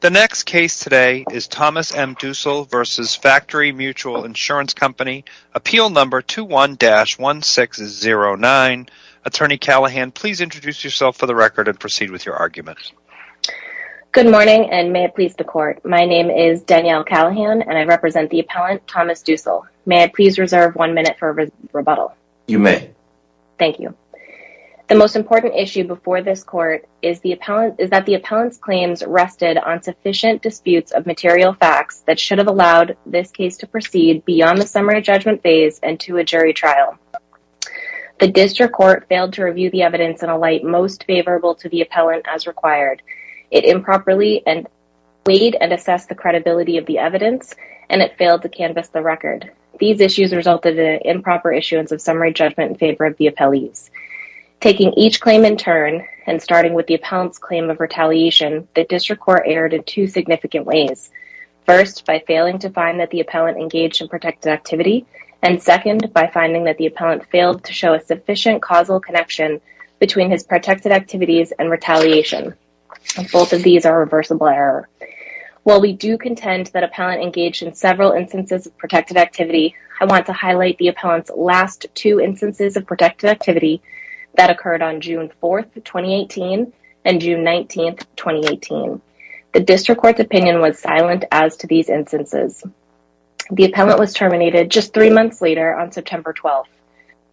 The next case today is Thomas M. Dussel v. Factory Mutual Insurance Company, appeal number 21-1609. Attorney Callahan, please introduce yourself for the record and proceed with your argument. Good morning and may it please the court. My name is Danielle Callahan and I represent the appellant Thomas Dussel. May I please reserve one minute for rebuttal? You may. Thank you. The most important issue before this court is that the appellant's claims rested on sufficient disputes of material facts that should have allowed this case to proceed beyond the summary judgment phase and to a jury trial. The district court failed to review the evidence in a light most favorable to the appellant as required. It improperly weighed and assessed the credibility of the evidence and it failed to canvas the record. These issues resulted in improper issuance of summary judgment in favor of the appellees. Taking each claim in two significant ways. First, by failing to find that the appellant engaged in protected activity and second, by finding that the appellant failed to show a sufficient causal connection between his protected activities and retaliation. Both of these are reversible error. While we do contend that appellant engaged in several instances of protected activity, I want to highlight the appellant's last two instances of protected activity that occurred on June 4, 2018 and June 19, 2018. The district court's opinion was silent as to these instances. The appellant was terminated just three months later on September 12th.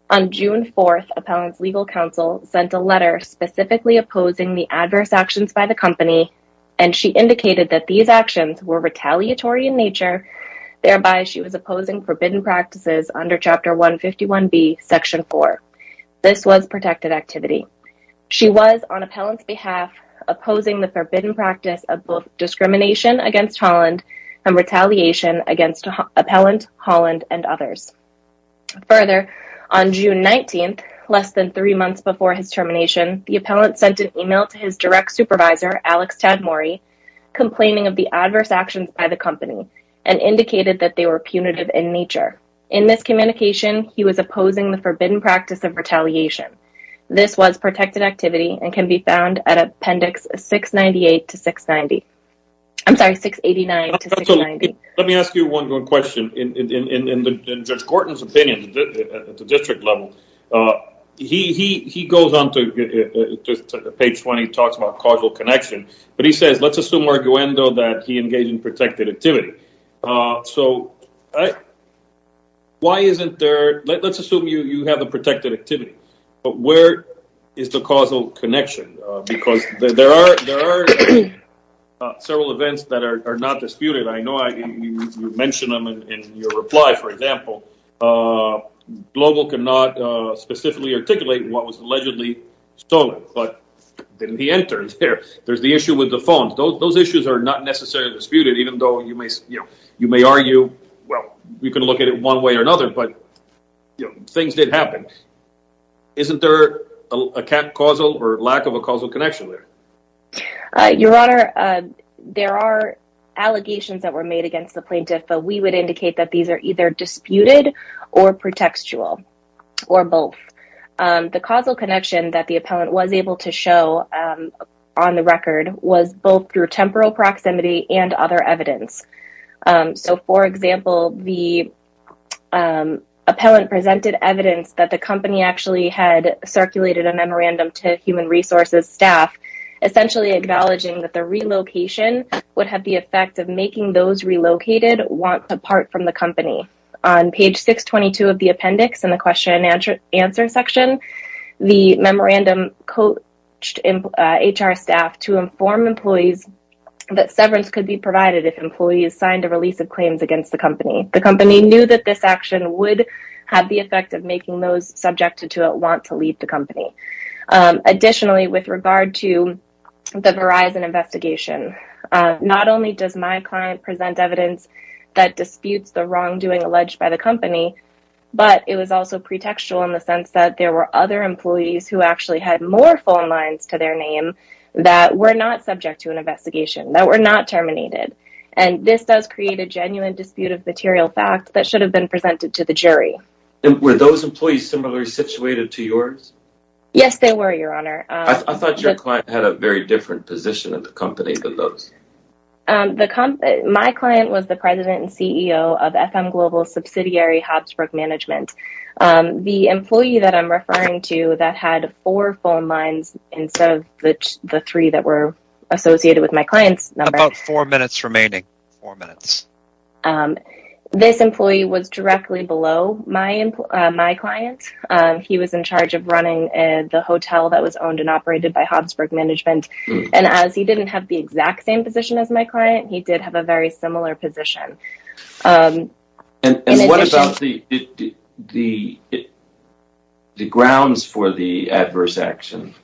On June 4th, appellant's legal counsel sent a letter specifically opposing the adverse actions by the company and she indicated that these actions were retaliatory in nature, thereby she was opposing forbidden practices under Chapter 151B, Section 4. This was protected activity. She was, on appellant's behalf, opposing the forbidden practice of both discrimination against Holland and retaliation against appellant, Holland, and others. Further, on June 19th, less than three months before his termination, the appellant sent an email to his direct supervisor, Alex Tadmori, complaining of the adverse actions by the company and indicated that they were punitive in nature. In this communication, he was opposing the forbidden practice of retaliation. This was protected activity and can be found at Appendix 698 to 690. I'm sorry, 689 to 690. Let me ask you one more question. In Judge Gorton's opinion, at the district level, he goes on to page 20 and talks about causal connection, but he says, let's assume, arguendo, that he engaged in protected activity. Let's assume you have a protected activity, but where is the causal connection? Because there are several events that are not disputed. I know what was allegedly stolen, but didn't he enter? There's the issue with the phone. Those issues are not necessarily disputed, even though you may argue, well, we can look at it one way or another, but things did happen. Isn't there a causal or lack of a causal connection there? Your Honor, there are allegations that were made against the plaintiff, but we would indicate that these are either disputed or pretextual or both. The causal connection that the appellant was able to show on the record was both through temporal proximity and other evidence. For example, the appellant presented evidence that the company actually had circulated a memorandum to human resources staff, essentially acknowledging that the relocation would have the effect of making those relocated want to part from the company. On page 622 of the appendix in the question and answer section, the memorandum coached HR staff to inform employees that severance could be provided if employees signed a release of claims against the company. The company knew that this action would have the effect of making those subjected to it want to leave the company. Additionally, with regard to the Verizon investigation, not only does my client present evidence that disputes the wrongdoing alleged by the company, but it was also pretextual in the sense that there were other employees who actually had more phone lines to their name that were not subject to an investigation, that were not terminated. This does create a genuine dispute of material fact that should have been presented to the jury. Were those employees similarly situated to yours? Yes, they were, Your Honor. I thought your client had a very different position in the company than those. My client was the president and CEO of FM Global's subsidiary, Hobsbrook Management. The employee that I'm referring to that had four phone lines instead of the three that were associated with my client's number, this employee was directly below my client. He was in charge of running the hotel that was owned and operated by Hobsbrook Management. As he didn't have the exact same position as my client, he did have a very similar position. What about the grounds for the adverse action?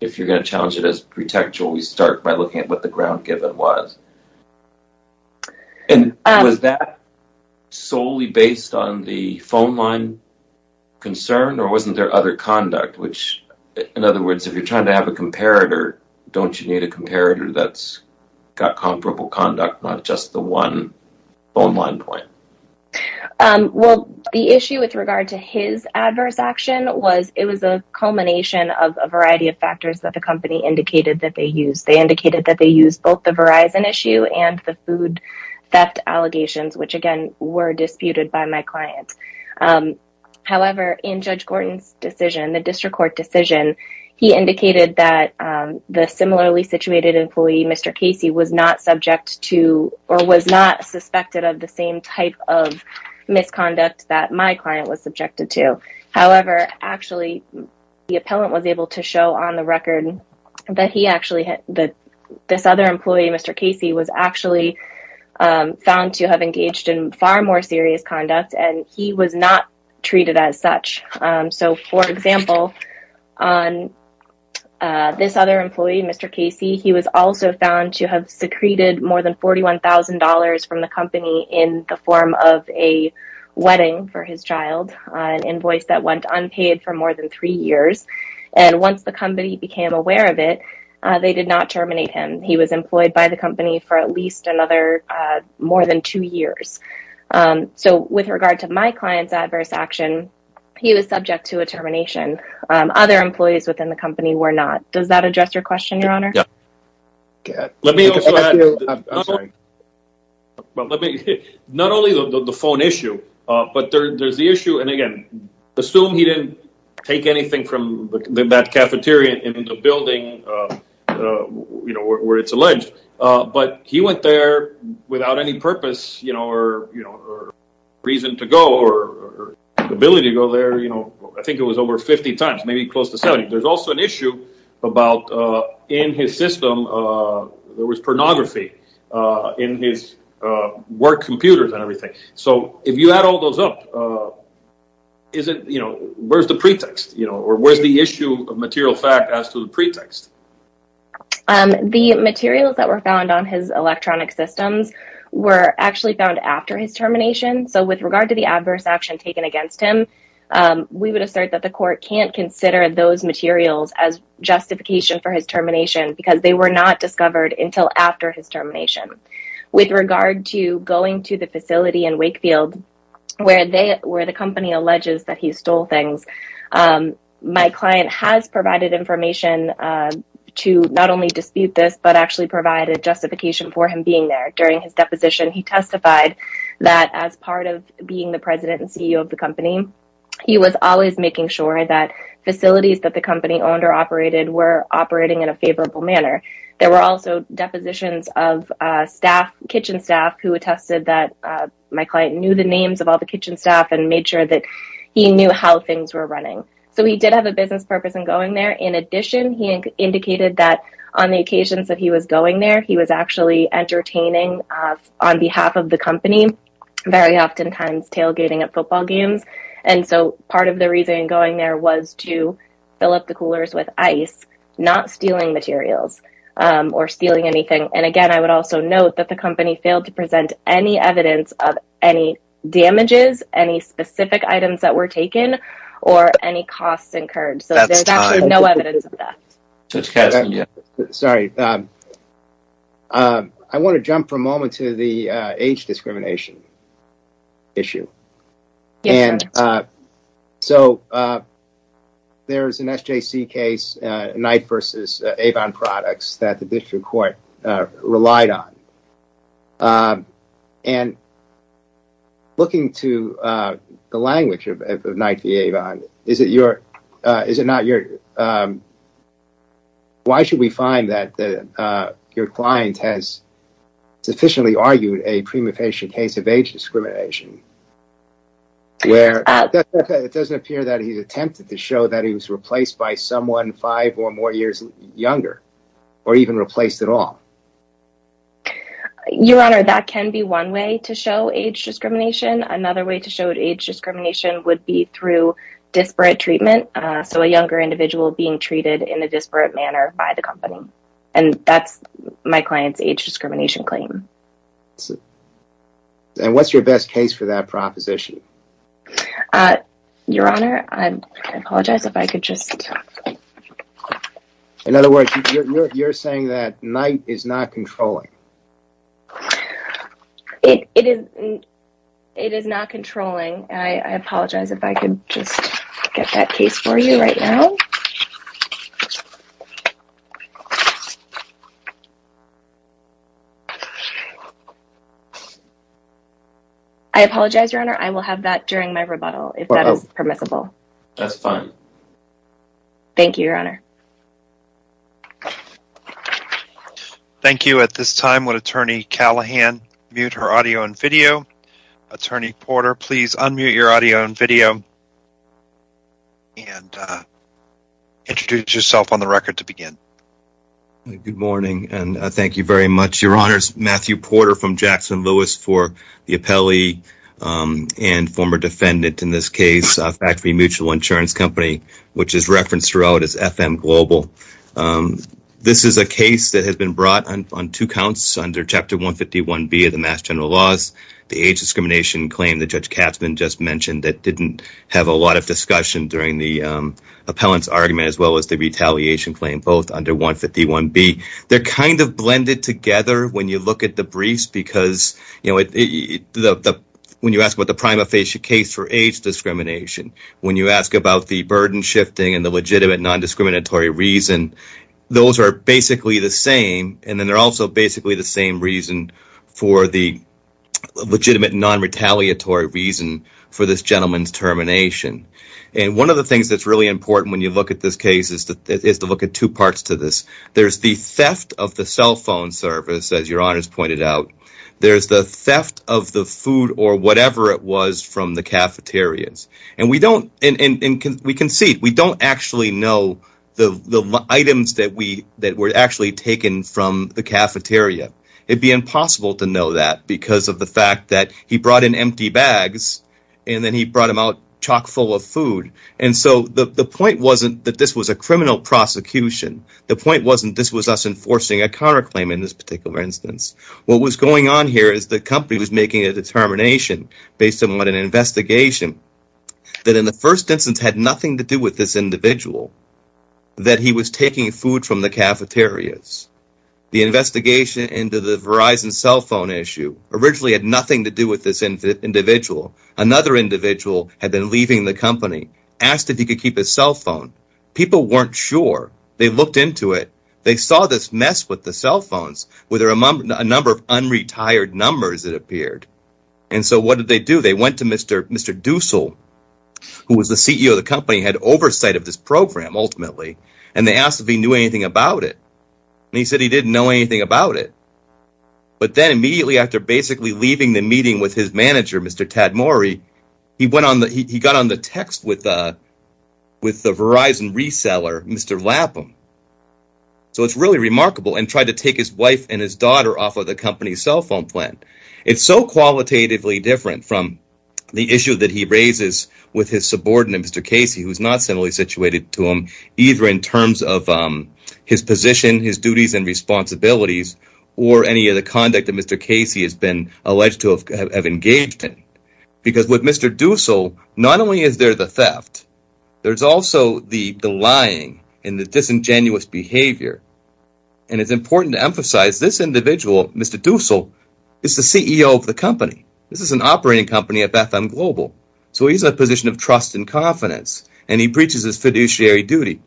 If you're going to challenge it as pretextual, we start by looking at what the ground given was. Was that solely based on the phone line concern or wasn't there other conduct, which in other words, if you're trying to have a comparator, don't you need a comparator that's got comparable conduct, not just the one phone line point? Well, the issue with regard to his adverse action was it was a culmination of a variety of factors that the company indicated that they used. They indicated that they used both the Verizon issue and the food theft allegations, which again were disputed by my client. However, in Judge Gordon's decision, the district court decision, he indicated that the similarly situated employee, Mr. Casey, was not subject to or was not suspected of the same type of misconduct that my client was subjected to. However, actually, the appellant was able to show on the record that this other employee, Mr. Casey, was actually found to have engaged in far more serious conduct and he was not treated as such. So for example, on this other employee, Mr. Casey, he was also found to have secreted more than $41,000 from the company in the form of a wedding for his child, an invoice that went unpaid for more than three years. And once the company became aware of it, they did not terminate him. He was employed by the company for at least another more than two years. So with regard to my client's adverse action, he was subject to a termination. Other employees within the company were not. Does that address your question, Your Honor? Let me also add, not only the phone issue, but there's the issue, and again, assume he didn't take anything from that cafeteria in the building where it's alleged, but he went there without any purpose or reason to go or ability to go there. I think it was over 50 times, maybe close to 70. There's also an issue about in his system, there was pornography in his work computers and everything. So if you add all those up, where's the pretext? Or where's the issue of material fact as to the pretext? The materials that were found on his electronic systems were actually found after his termination. So with regard to the adverse action taken against him, we would assert that the court can't consider those materials as justification for his termination because they were not discovered until after his termination. With regard to going to the facility in Wakefield, where the company alleges that he stole things, my client has provided information to not only dispute this, but actually provide a justification for him being there. During his deposition, he testified that as part of being the president and CEO of the company, he was always making sure that facilities that the company owned or operated were operating in a favorable manner. There were also depositions of staff, kitchen staff, who attested that my client knew the he knew how things were running. So he did have a business purpose in going there. In addition, he indicated that on the occasions that he was going there, he was actually entertaining on behalf of the company, very oftentimes tailgating at football games. And so part of the reason going there was to fill up the coolers with ice, not stealing materials or stealing anything. And again, I would also note that the company failed to present any evidence of any damages, any specific items that were taken, or any costs incurred. So there's actually no evidence of that. Sorry, I want to jump for a moment to the age discrimination issue. And so there's an SJC case, Knight versus Avon Products, that the district court relied on. And looking to the language of Knight v. Avon, is it your, is it not your, why should we find that your client has sufficiently argued a prima facie case of age discrimination? Where it doesn't appear that he's attempted to show that he was replaced by someone five or more years younger, or even replaced at all? Your Honor, that can be one way to show age discrimination. Another way to show age discrimination would be through disparate treatment. So a younger individual being treated in a disparate manner by the company. And that's my client's age discrimination claim. And what's your best case for that proposition? Uh, Your Honor, I apologize if I could just... In other words, you're saying that Knight is not controlling? It is not controlling. I apologize if I could just get that case for you right now. I apologize, Your Honor. I will have that during my rebuttal if that is permissible. That's fine. Thank you, Your Honor. Thank you. At this time, would Attorney Callahan mute her audio and video? Attorney Porter, please unmute your audio and video. And introduce yourself on the record to begin. Good morning, and thank you very much, Your Honors. Matthew Porter from Jackson Lewis for the appellee and former defendant in this case, Factory Mutual Insurance Company, which is referenced throughout as FM Global. This is a case that has been brought on two general laws. The age discrimination claim that Judge Katzman just mentioned that didn't have a lot of discussion during the appellant's argument, as well as the retaliation claim, both under 151B. They're kind of blended together when you look at the briefs because, you know, when you ask about the prima facie case for age discrimination, when you ask about the burden shifting and the legitimate nondiscriminatory reason, those are basically the same. And then they're also basically the same reason for the legitimate nonretaliatory reason for this gentleman's termination. And one of the things that's really important when you look at this case is to look at two parts to this. There's the theft of the cell phone service, as Your Honors pointed out. There's the theft of the food or whatever it was from the cafeterias. And we don't, and we concede, we don't actually know the items that were actually taken from the cafeteria. It'd be impossible to know that because of the fact that he brought in empty bags and then he brought them out chock full of food. And so the point wasn't that this was a criminal prosecution. The point wasn't this was us enforcing a counterclaim in this particular instance. What was going on here is the company was making a determination based on what an investigation that in the first instance had nothing to do with this individual, that he was taking food from the cafeterias. The investigation into the Verizon cell phone issue originally had nothing to do with this individual. Another individual had been leaving the company, asked if he could keep his cell phone. People weren't sure. They looked into it. They saw this mess with the cell phones, where there are a number of unretired numbers that appeared. And so what did they do? They went to Mr. Dussel, who was the CEO of the company, had oversight of this program ultimately, and they asked if he knew anything about it. And he said he didn't know anything about it. But then immediately after basically leaving the meeting with his manager, Mr. Tadmori, he got on the text with the Verizon reseller, Mr. Lapham. So it's really remarkable and tried to take his wife and his daughter off of the company's cell phone plan. It's so qualitatively from the issue that he raises with his subordinate, Mr. Casey, who's not similarly situated to him, either in terms of his position, his duties and responsibilities, or any of the conduct that Mr. Casey has been alleged to have engaged in. Because with Mr. Dussel, not only is there the theft, there's also the lying and the disingenuous behavior. And it's important to emphasize this individual, Mr. Dussel, is the CEO of the company. This is an operating company of FM Global. So he's in a position of trust and confidence, and he preaches his fiduciary duty.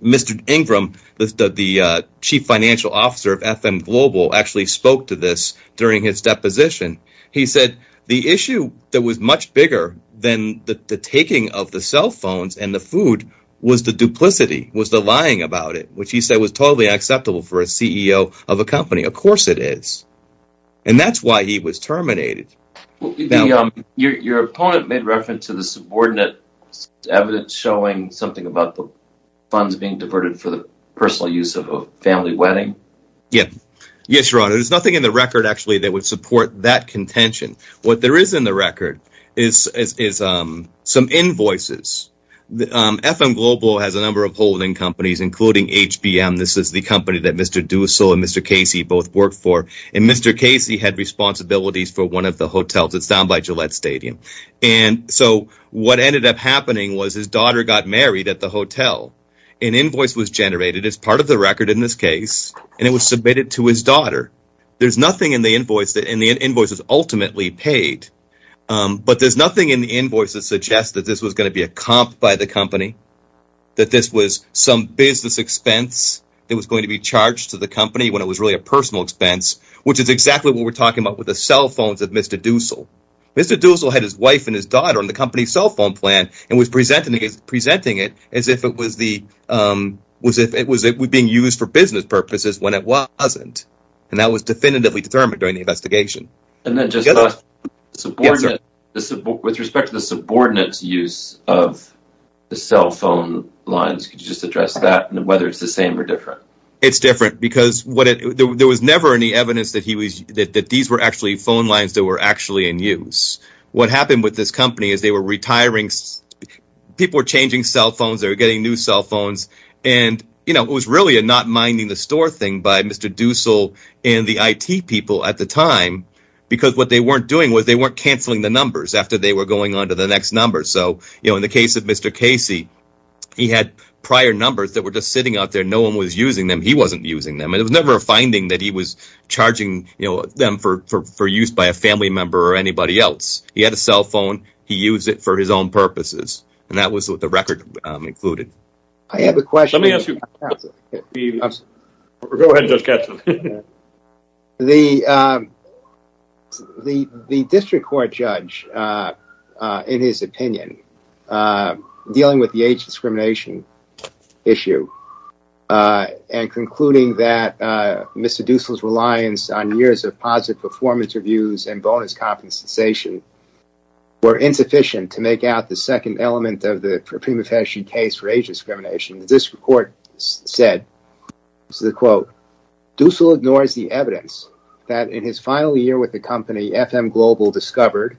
Mr. Ingram, the chief financial officer of FM Global, actually spoke to this during his deposition. He said the issue that was much bigger than the taking of the cell phones and the food was the duplicity, was the lying about it, which he said was totally unacceptable for a CEO of a company. Of course it is. And that's why he was terminated. Your opponent made reference to the subordinate evidence showing something about the funds being diverted for the personal use of a family wedding. Yes, your honor. There's nothing in the record, actually, that would support that contention. What there is in the record is some invoices. FM Global has a number of holding companies, including HBM. This is the company that Mr. Dussel and Mr. Casey both worked for. And Mr. Casey had responsibilities for one of the hotels. It's down by Gillette Stadium. And so what ended up happening was his daughter got married at the hotel. An invoice was generated as part of the record in this case, and it was submitted to his daughter. There's nothing in the invoice, and the invoice is ultimately paid. But there's nothing in the invoice that suggests that this was going to be a comp by the company, that this was some business expense that was going to be charged to the company when it was really a personal expense, which is exactly what we're talking about with the cell phones of Mr. Dussel. Mr. Dussel had his wife and his daughter on the company's cell phone plan and was presenting it as if it was being used for business purposes when it wasn't. And that was definitively And then just with respect to the subordinates use of the cell phone lines, could you just address that and whether it's the same or different? It's different because there was never any evidence that these were actually phone lines that were actually in use. What happened with this company is they were retiring, people were changing cell phones, they were getting new cell because what they weren't doing was they weren't canceling the numbers after they were going on to the next number. So in the case of Mr. Casey, he had prior numbers that were just sitting out there, no one was using them, he wasn't using them. And it was never a finding that he was charging them for use by a family member or anybody else. He had a cell phone, he used it for his own purposes. And that was what the record included. I have a question. Let me ask you. Go ahead, Judge Katzen. The district court judge, in his opinion, dealing with the age discrimination issue and concluding that Mr. Dussel's reliance on years of positive performance reviews and bonus compensation were insufficient to make out the second element of the prima facie case for age discrimination, the district court said, this is a quote, Dussel ignores the evidence that in his final year with the company, FM Global discovered,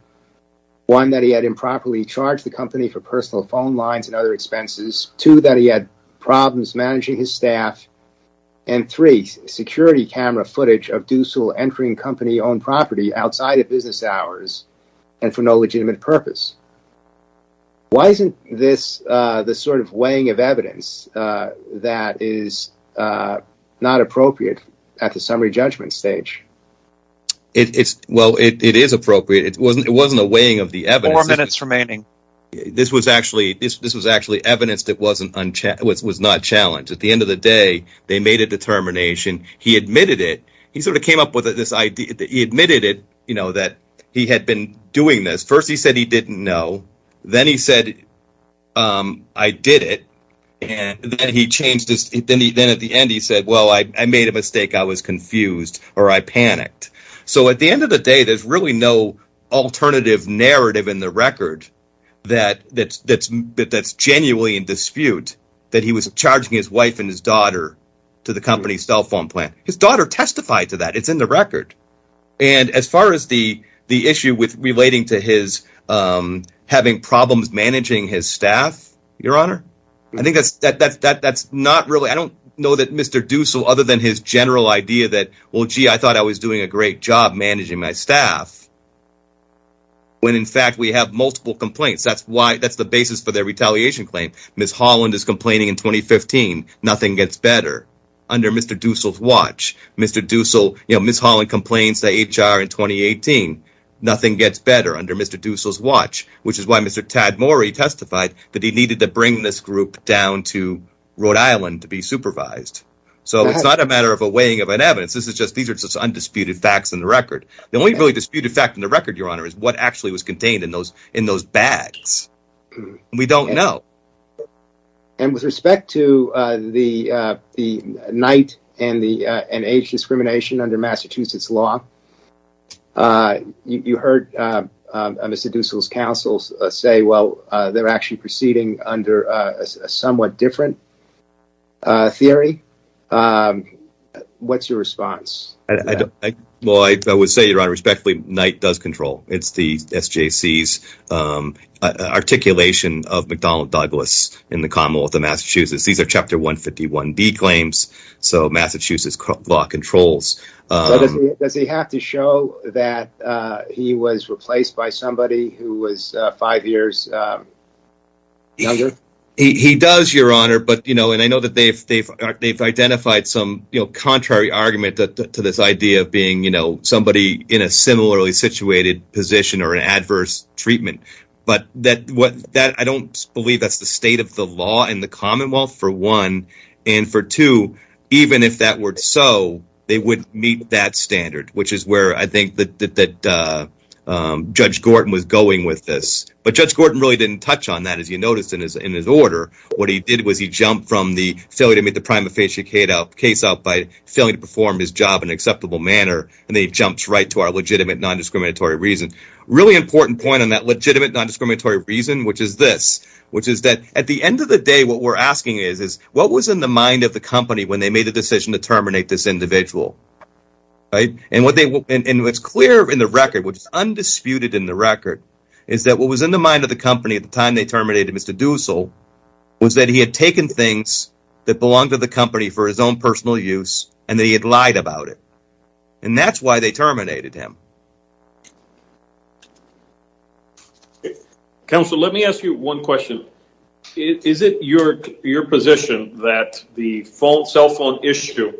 one, that he had improperly charged the company for personal phone lines and other expenses, two, that he had problems managing his staff, and three, security camera footage of Dussel entering company-owned property outside of business hours and for no legitimate purpose. Why isn't this the sort of weighing of evidence that is not appropriate at the summary judgment stage? Well, it is appropriate. It wasn't a weighing of the evidence. Four minutes remaining. This was actually evidence that was not challenged. At the end of the day, they made a determination. He admitted it. He sort of came up with this idea that he had been doing this. First, he said he didn't know. Then he said, I did it. And then at the end, he said, well, I made a mistake. I was confused or I panicked. So at the end of the day, there's really no alternative narrative in the record that's genuinely in dispute that he was charging his wife and his daughter to the company's cell phone plan. His daughter testified to that. It's in the record. And as far as the issue with relating to his having problems managing his staff, Your Honor, I don't know that Mr. Dussel, other than his general idea that, well, gee, I thought I was doing a great job managing my staff, when in fact we have multiple complaints. That's the basis for their retaliation claim. Ms. Holland is complaining in 2015, nothing gets better. Under Mr. Dussel's watch, Ms. Holland complains to HR in 2018, nothing gets better under Mr. Dussel's watch, which is why Mr. Tadmori testified that he needed to bring this group down to Rhode Island to be supervised. So it's not a matter of a weighing of an evidence. These are just undisputed facts in the record. The only really disputed fact in record, Your Honor, is what actually was contained in those bags. And we don't know. And with respect to the night and age discrimination under Massachusetts law, you heard Mr. Dussel's counsel say, well, they're actually proceeding under a somewhat different theory. What's your response? Well, I would say, Your Honor, respectfully, Knight does control. It's the SJC's articulation of McDonnell Douglas in the Commonwealth of Massachusetts. These are Chapter 151D claims. So Massachusetts law controls. Does he have to show that he was replaced by somebody who was five years younger? He does, Your Honor. And I know that they've identified some contrary argument to this idea of being somebody in a similarly situated position or an adverse treatment. But I don't believe that's the state of the law in the Commonwealth, for one. And for two, even if that were so, they wouldn't meet that standard, which is where I think that Judge Gorton was going with this. But Judge Gorton really didn't touch on that, as you noticed in his order. What he did was he jumped from the failure to make the job an acceptable manner, and he jumped right to our legitimate non-discriminatory reason. Really important point on that legitimate non-discriminatory reason, which is this, which is that at the end of the day, what we're asking is, is what was in the mind of the company when they made the decision to terminate this individual? And what's clear in the record, which is undisputed in the record, is that what was in the mind of the company at the time they terminated Mr. Dussel was that he had taken things that belonged to the company for his personal use, and that he had lied about it. And that's why they terminated him. Counsel, let me ask you one question. Is it your position that the cell phone issue,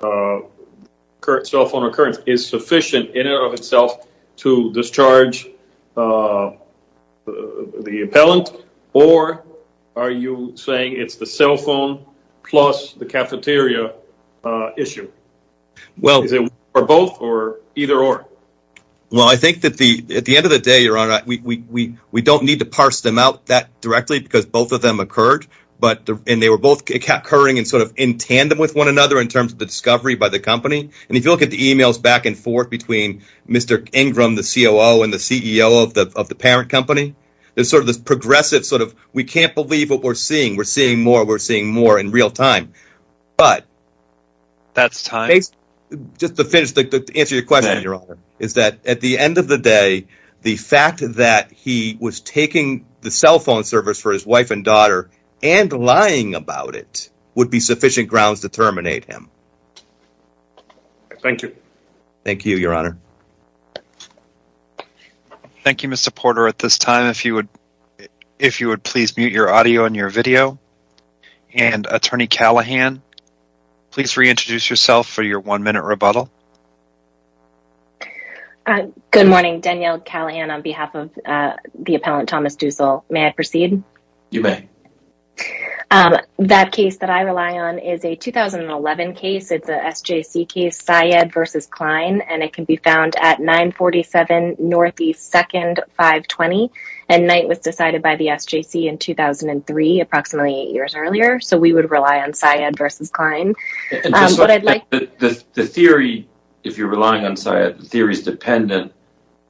cell phone occurrence, is sufficient in and of itself to discharge the appellant, or are you saying it's the cell phone plus the cafeteria issue? Is it one or both, or either or? Well, I think that at the end of the day, your honor, we don't need to parse them out that directly because both of them occurred, and they were both occurring in tandem with one another in terms of the discovery by the company. And if you look at the emails back and forth between Mr. Ingram, the COO, and the CEO of the parent company, there's sort of this progressive sort seeing. We're seeing more. We're seeing more in real time. But that's time. Just to finish, to answer your question, your honor, is that at the end of the day, the fact that he was taking the cell phone service for his wife and daughter and lying about it would be sufficient grounds to terminate him. Thank you. Thank you, your honor. Thank you, Mr. Porter. At this time, if you would please mute your audio and your video. And, Attorney Callahan, please reintroduce yourself for your one-minute rebuttal. Good morning. Danielle Callahan on behalf of the appellant, Thomas Dussel. May I proceed? You may. That case that I rely on is a 2011 case. It's a SJC case, Syed v. Klein, and it can be found at 947 Northeast 2nd, 520. And night was decided by the SJC in 2003, approximately eight years earlier. So we would rely on Syed v. Klein. The theory, if you're relying on Syed, the theory is dependent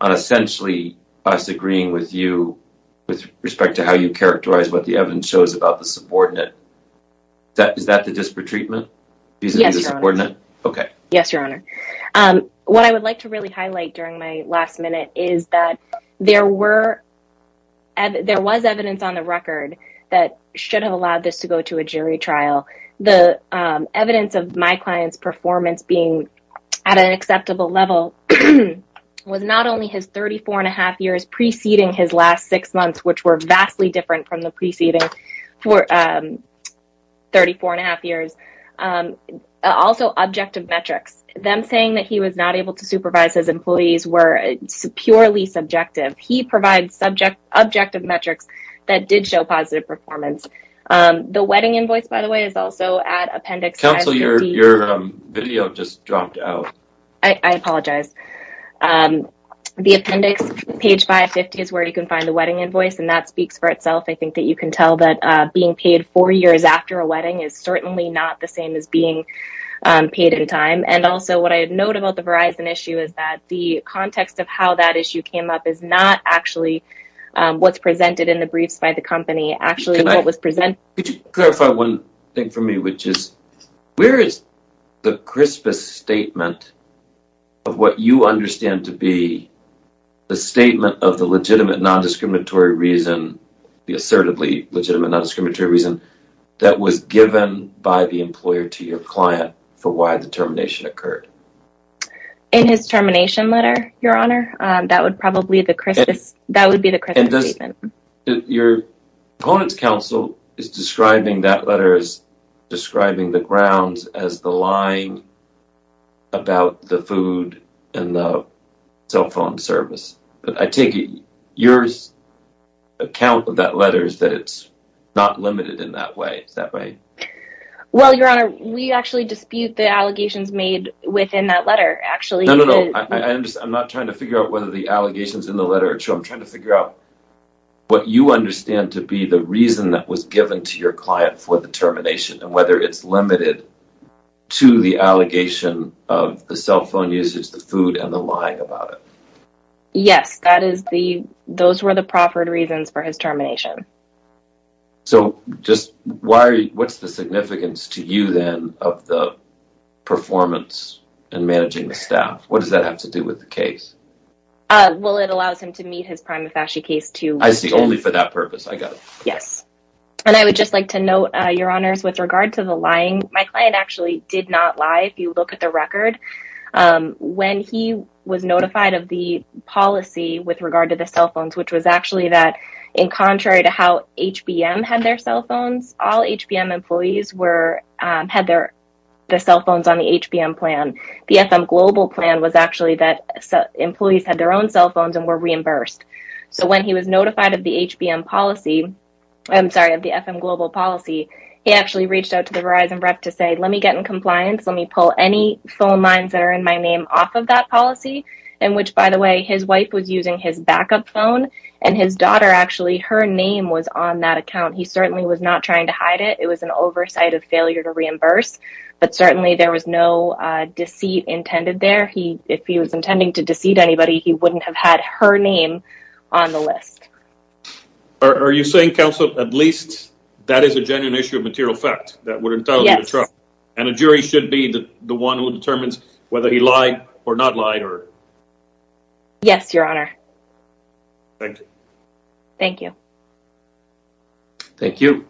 on essentially us agreeing with you with respect to how you characterize what the evidence shows about the subordinate. Is that the disparate treatment? Yes, your honor. What I would like to really highlight during my last minute is that there was evidence on the record that should have allowed this to go to a jury trial. The evidence of my client's performance being at an acceptable level was not only his 34 and a half years preceding his last six months, which were vastly different from the preceding 34 and a half years, also objective metrics. Them saying that he was not able to supervise his employees were purely subjective. He provides subjective metrics that did show positive performance. The wedding invoice, by the way, is also at Appendix 550. Counsel, your video just dropped out. I apologize. The Appendix 550 is where you can find the wedding invoice, and that speaks for itself. I think that you can tell that being paid four years after a wedding is certainly not the same as being paid in time. And also, what I note about the Verizon issue is that the context of how that issue came up is not actually what's presented in the briefs by the company. Actually, what was presented... Could you clarify one thing for me, which is, where is the crispest statement of what you said? The assertively legitimate non-discriminatory reason that was given by the employer to your client for why the termination occurred? In his termination letter, Your Honor. That would probably be the crispest statement. Your opponent's counsel is describing that letter as describing the grounds as the lying about the food and the cell phone service. I take it your account of that letter is that it's not limited in that way. Is that right? Well, Your Honor, we actually dispute the allegations made within that letter, actually. No, no, no. I'm not trying to figure out whether the allegations in the letter are true. I'm trying to figure out what you understand to be the reason that was given to your client for the termination and whether it's limited to the allegation of the cell phone usage, the food, and the lying about it. Yes. Those were the proffered reasons for his termination. So, what's the significance to you, then, of the performance in managing the staff? What does that have to do with the case? Well, it allows him to meet his prima facie case to... I see. Only for that purpose. I got it. Yes. And I would just like to note, Your Honors, with regard to the lying, my client actually did not lie, if you look at the record. When he was notified of the policy with regard to the cell phones, which was actually that in contrary to how HBM had their cell phones, all HBM employees had their cell phones on the HBM plan. The FM Global plan was actually that employees had their own cell phones and were reimbursed. So, when he was notified of the HBM policy, I'm sorry, of the FM Global policy, he actually reached out to the Verizon rep to say, let me get in compliance. Let me pull any phone lines that are in my name off of that policy, in which, by the way, his wife was using his backup phone and his daughter, actually, her name was on that account. He certainly was not trying to hide it. It was an oversight of failure to reimburse. But certainly, there was no deceit intended there. If he was intending to deceive anybody, he wouldn't have had her name on the list. Are you saying, counsel, at least that is a genuine issue of material fact that would entail a trial and a jury should be the one who determines whether he lied or not lied? Yes, Your Honor. Thank you. Thank you.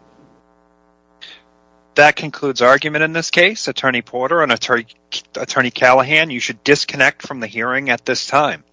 That concludes argument in this case. Attorney Porter and Attorney Callahan, you should disconnect from the hearing at this time.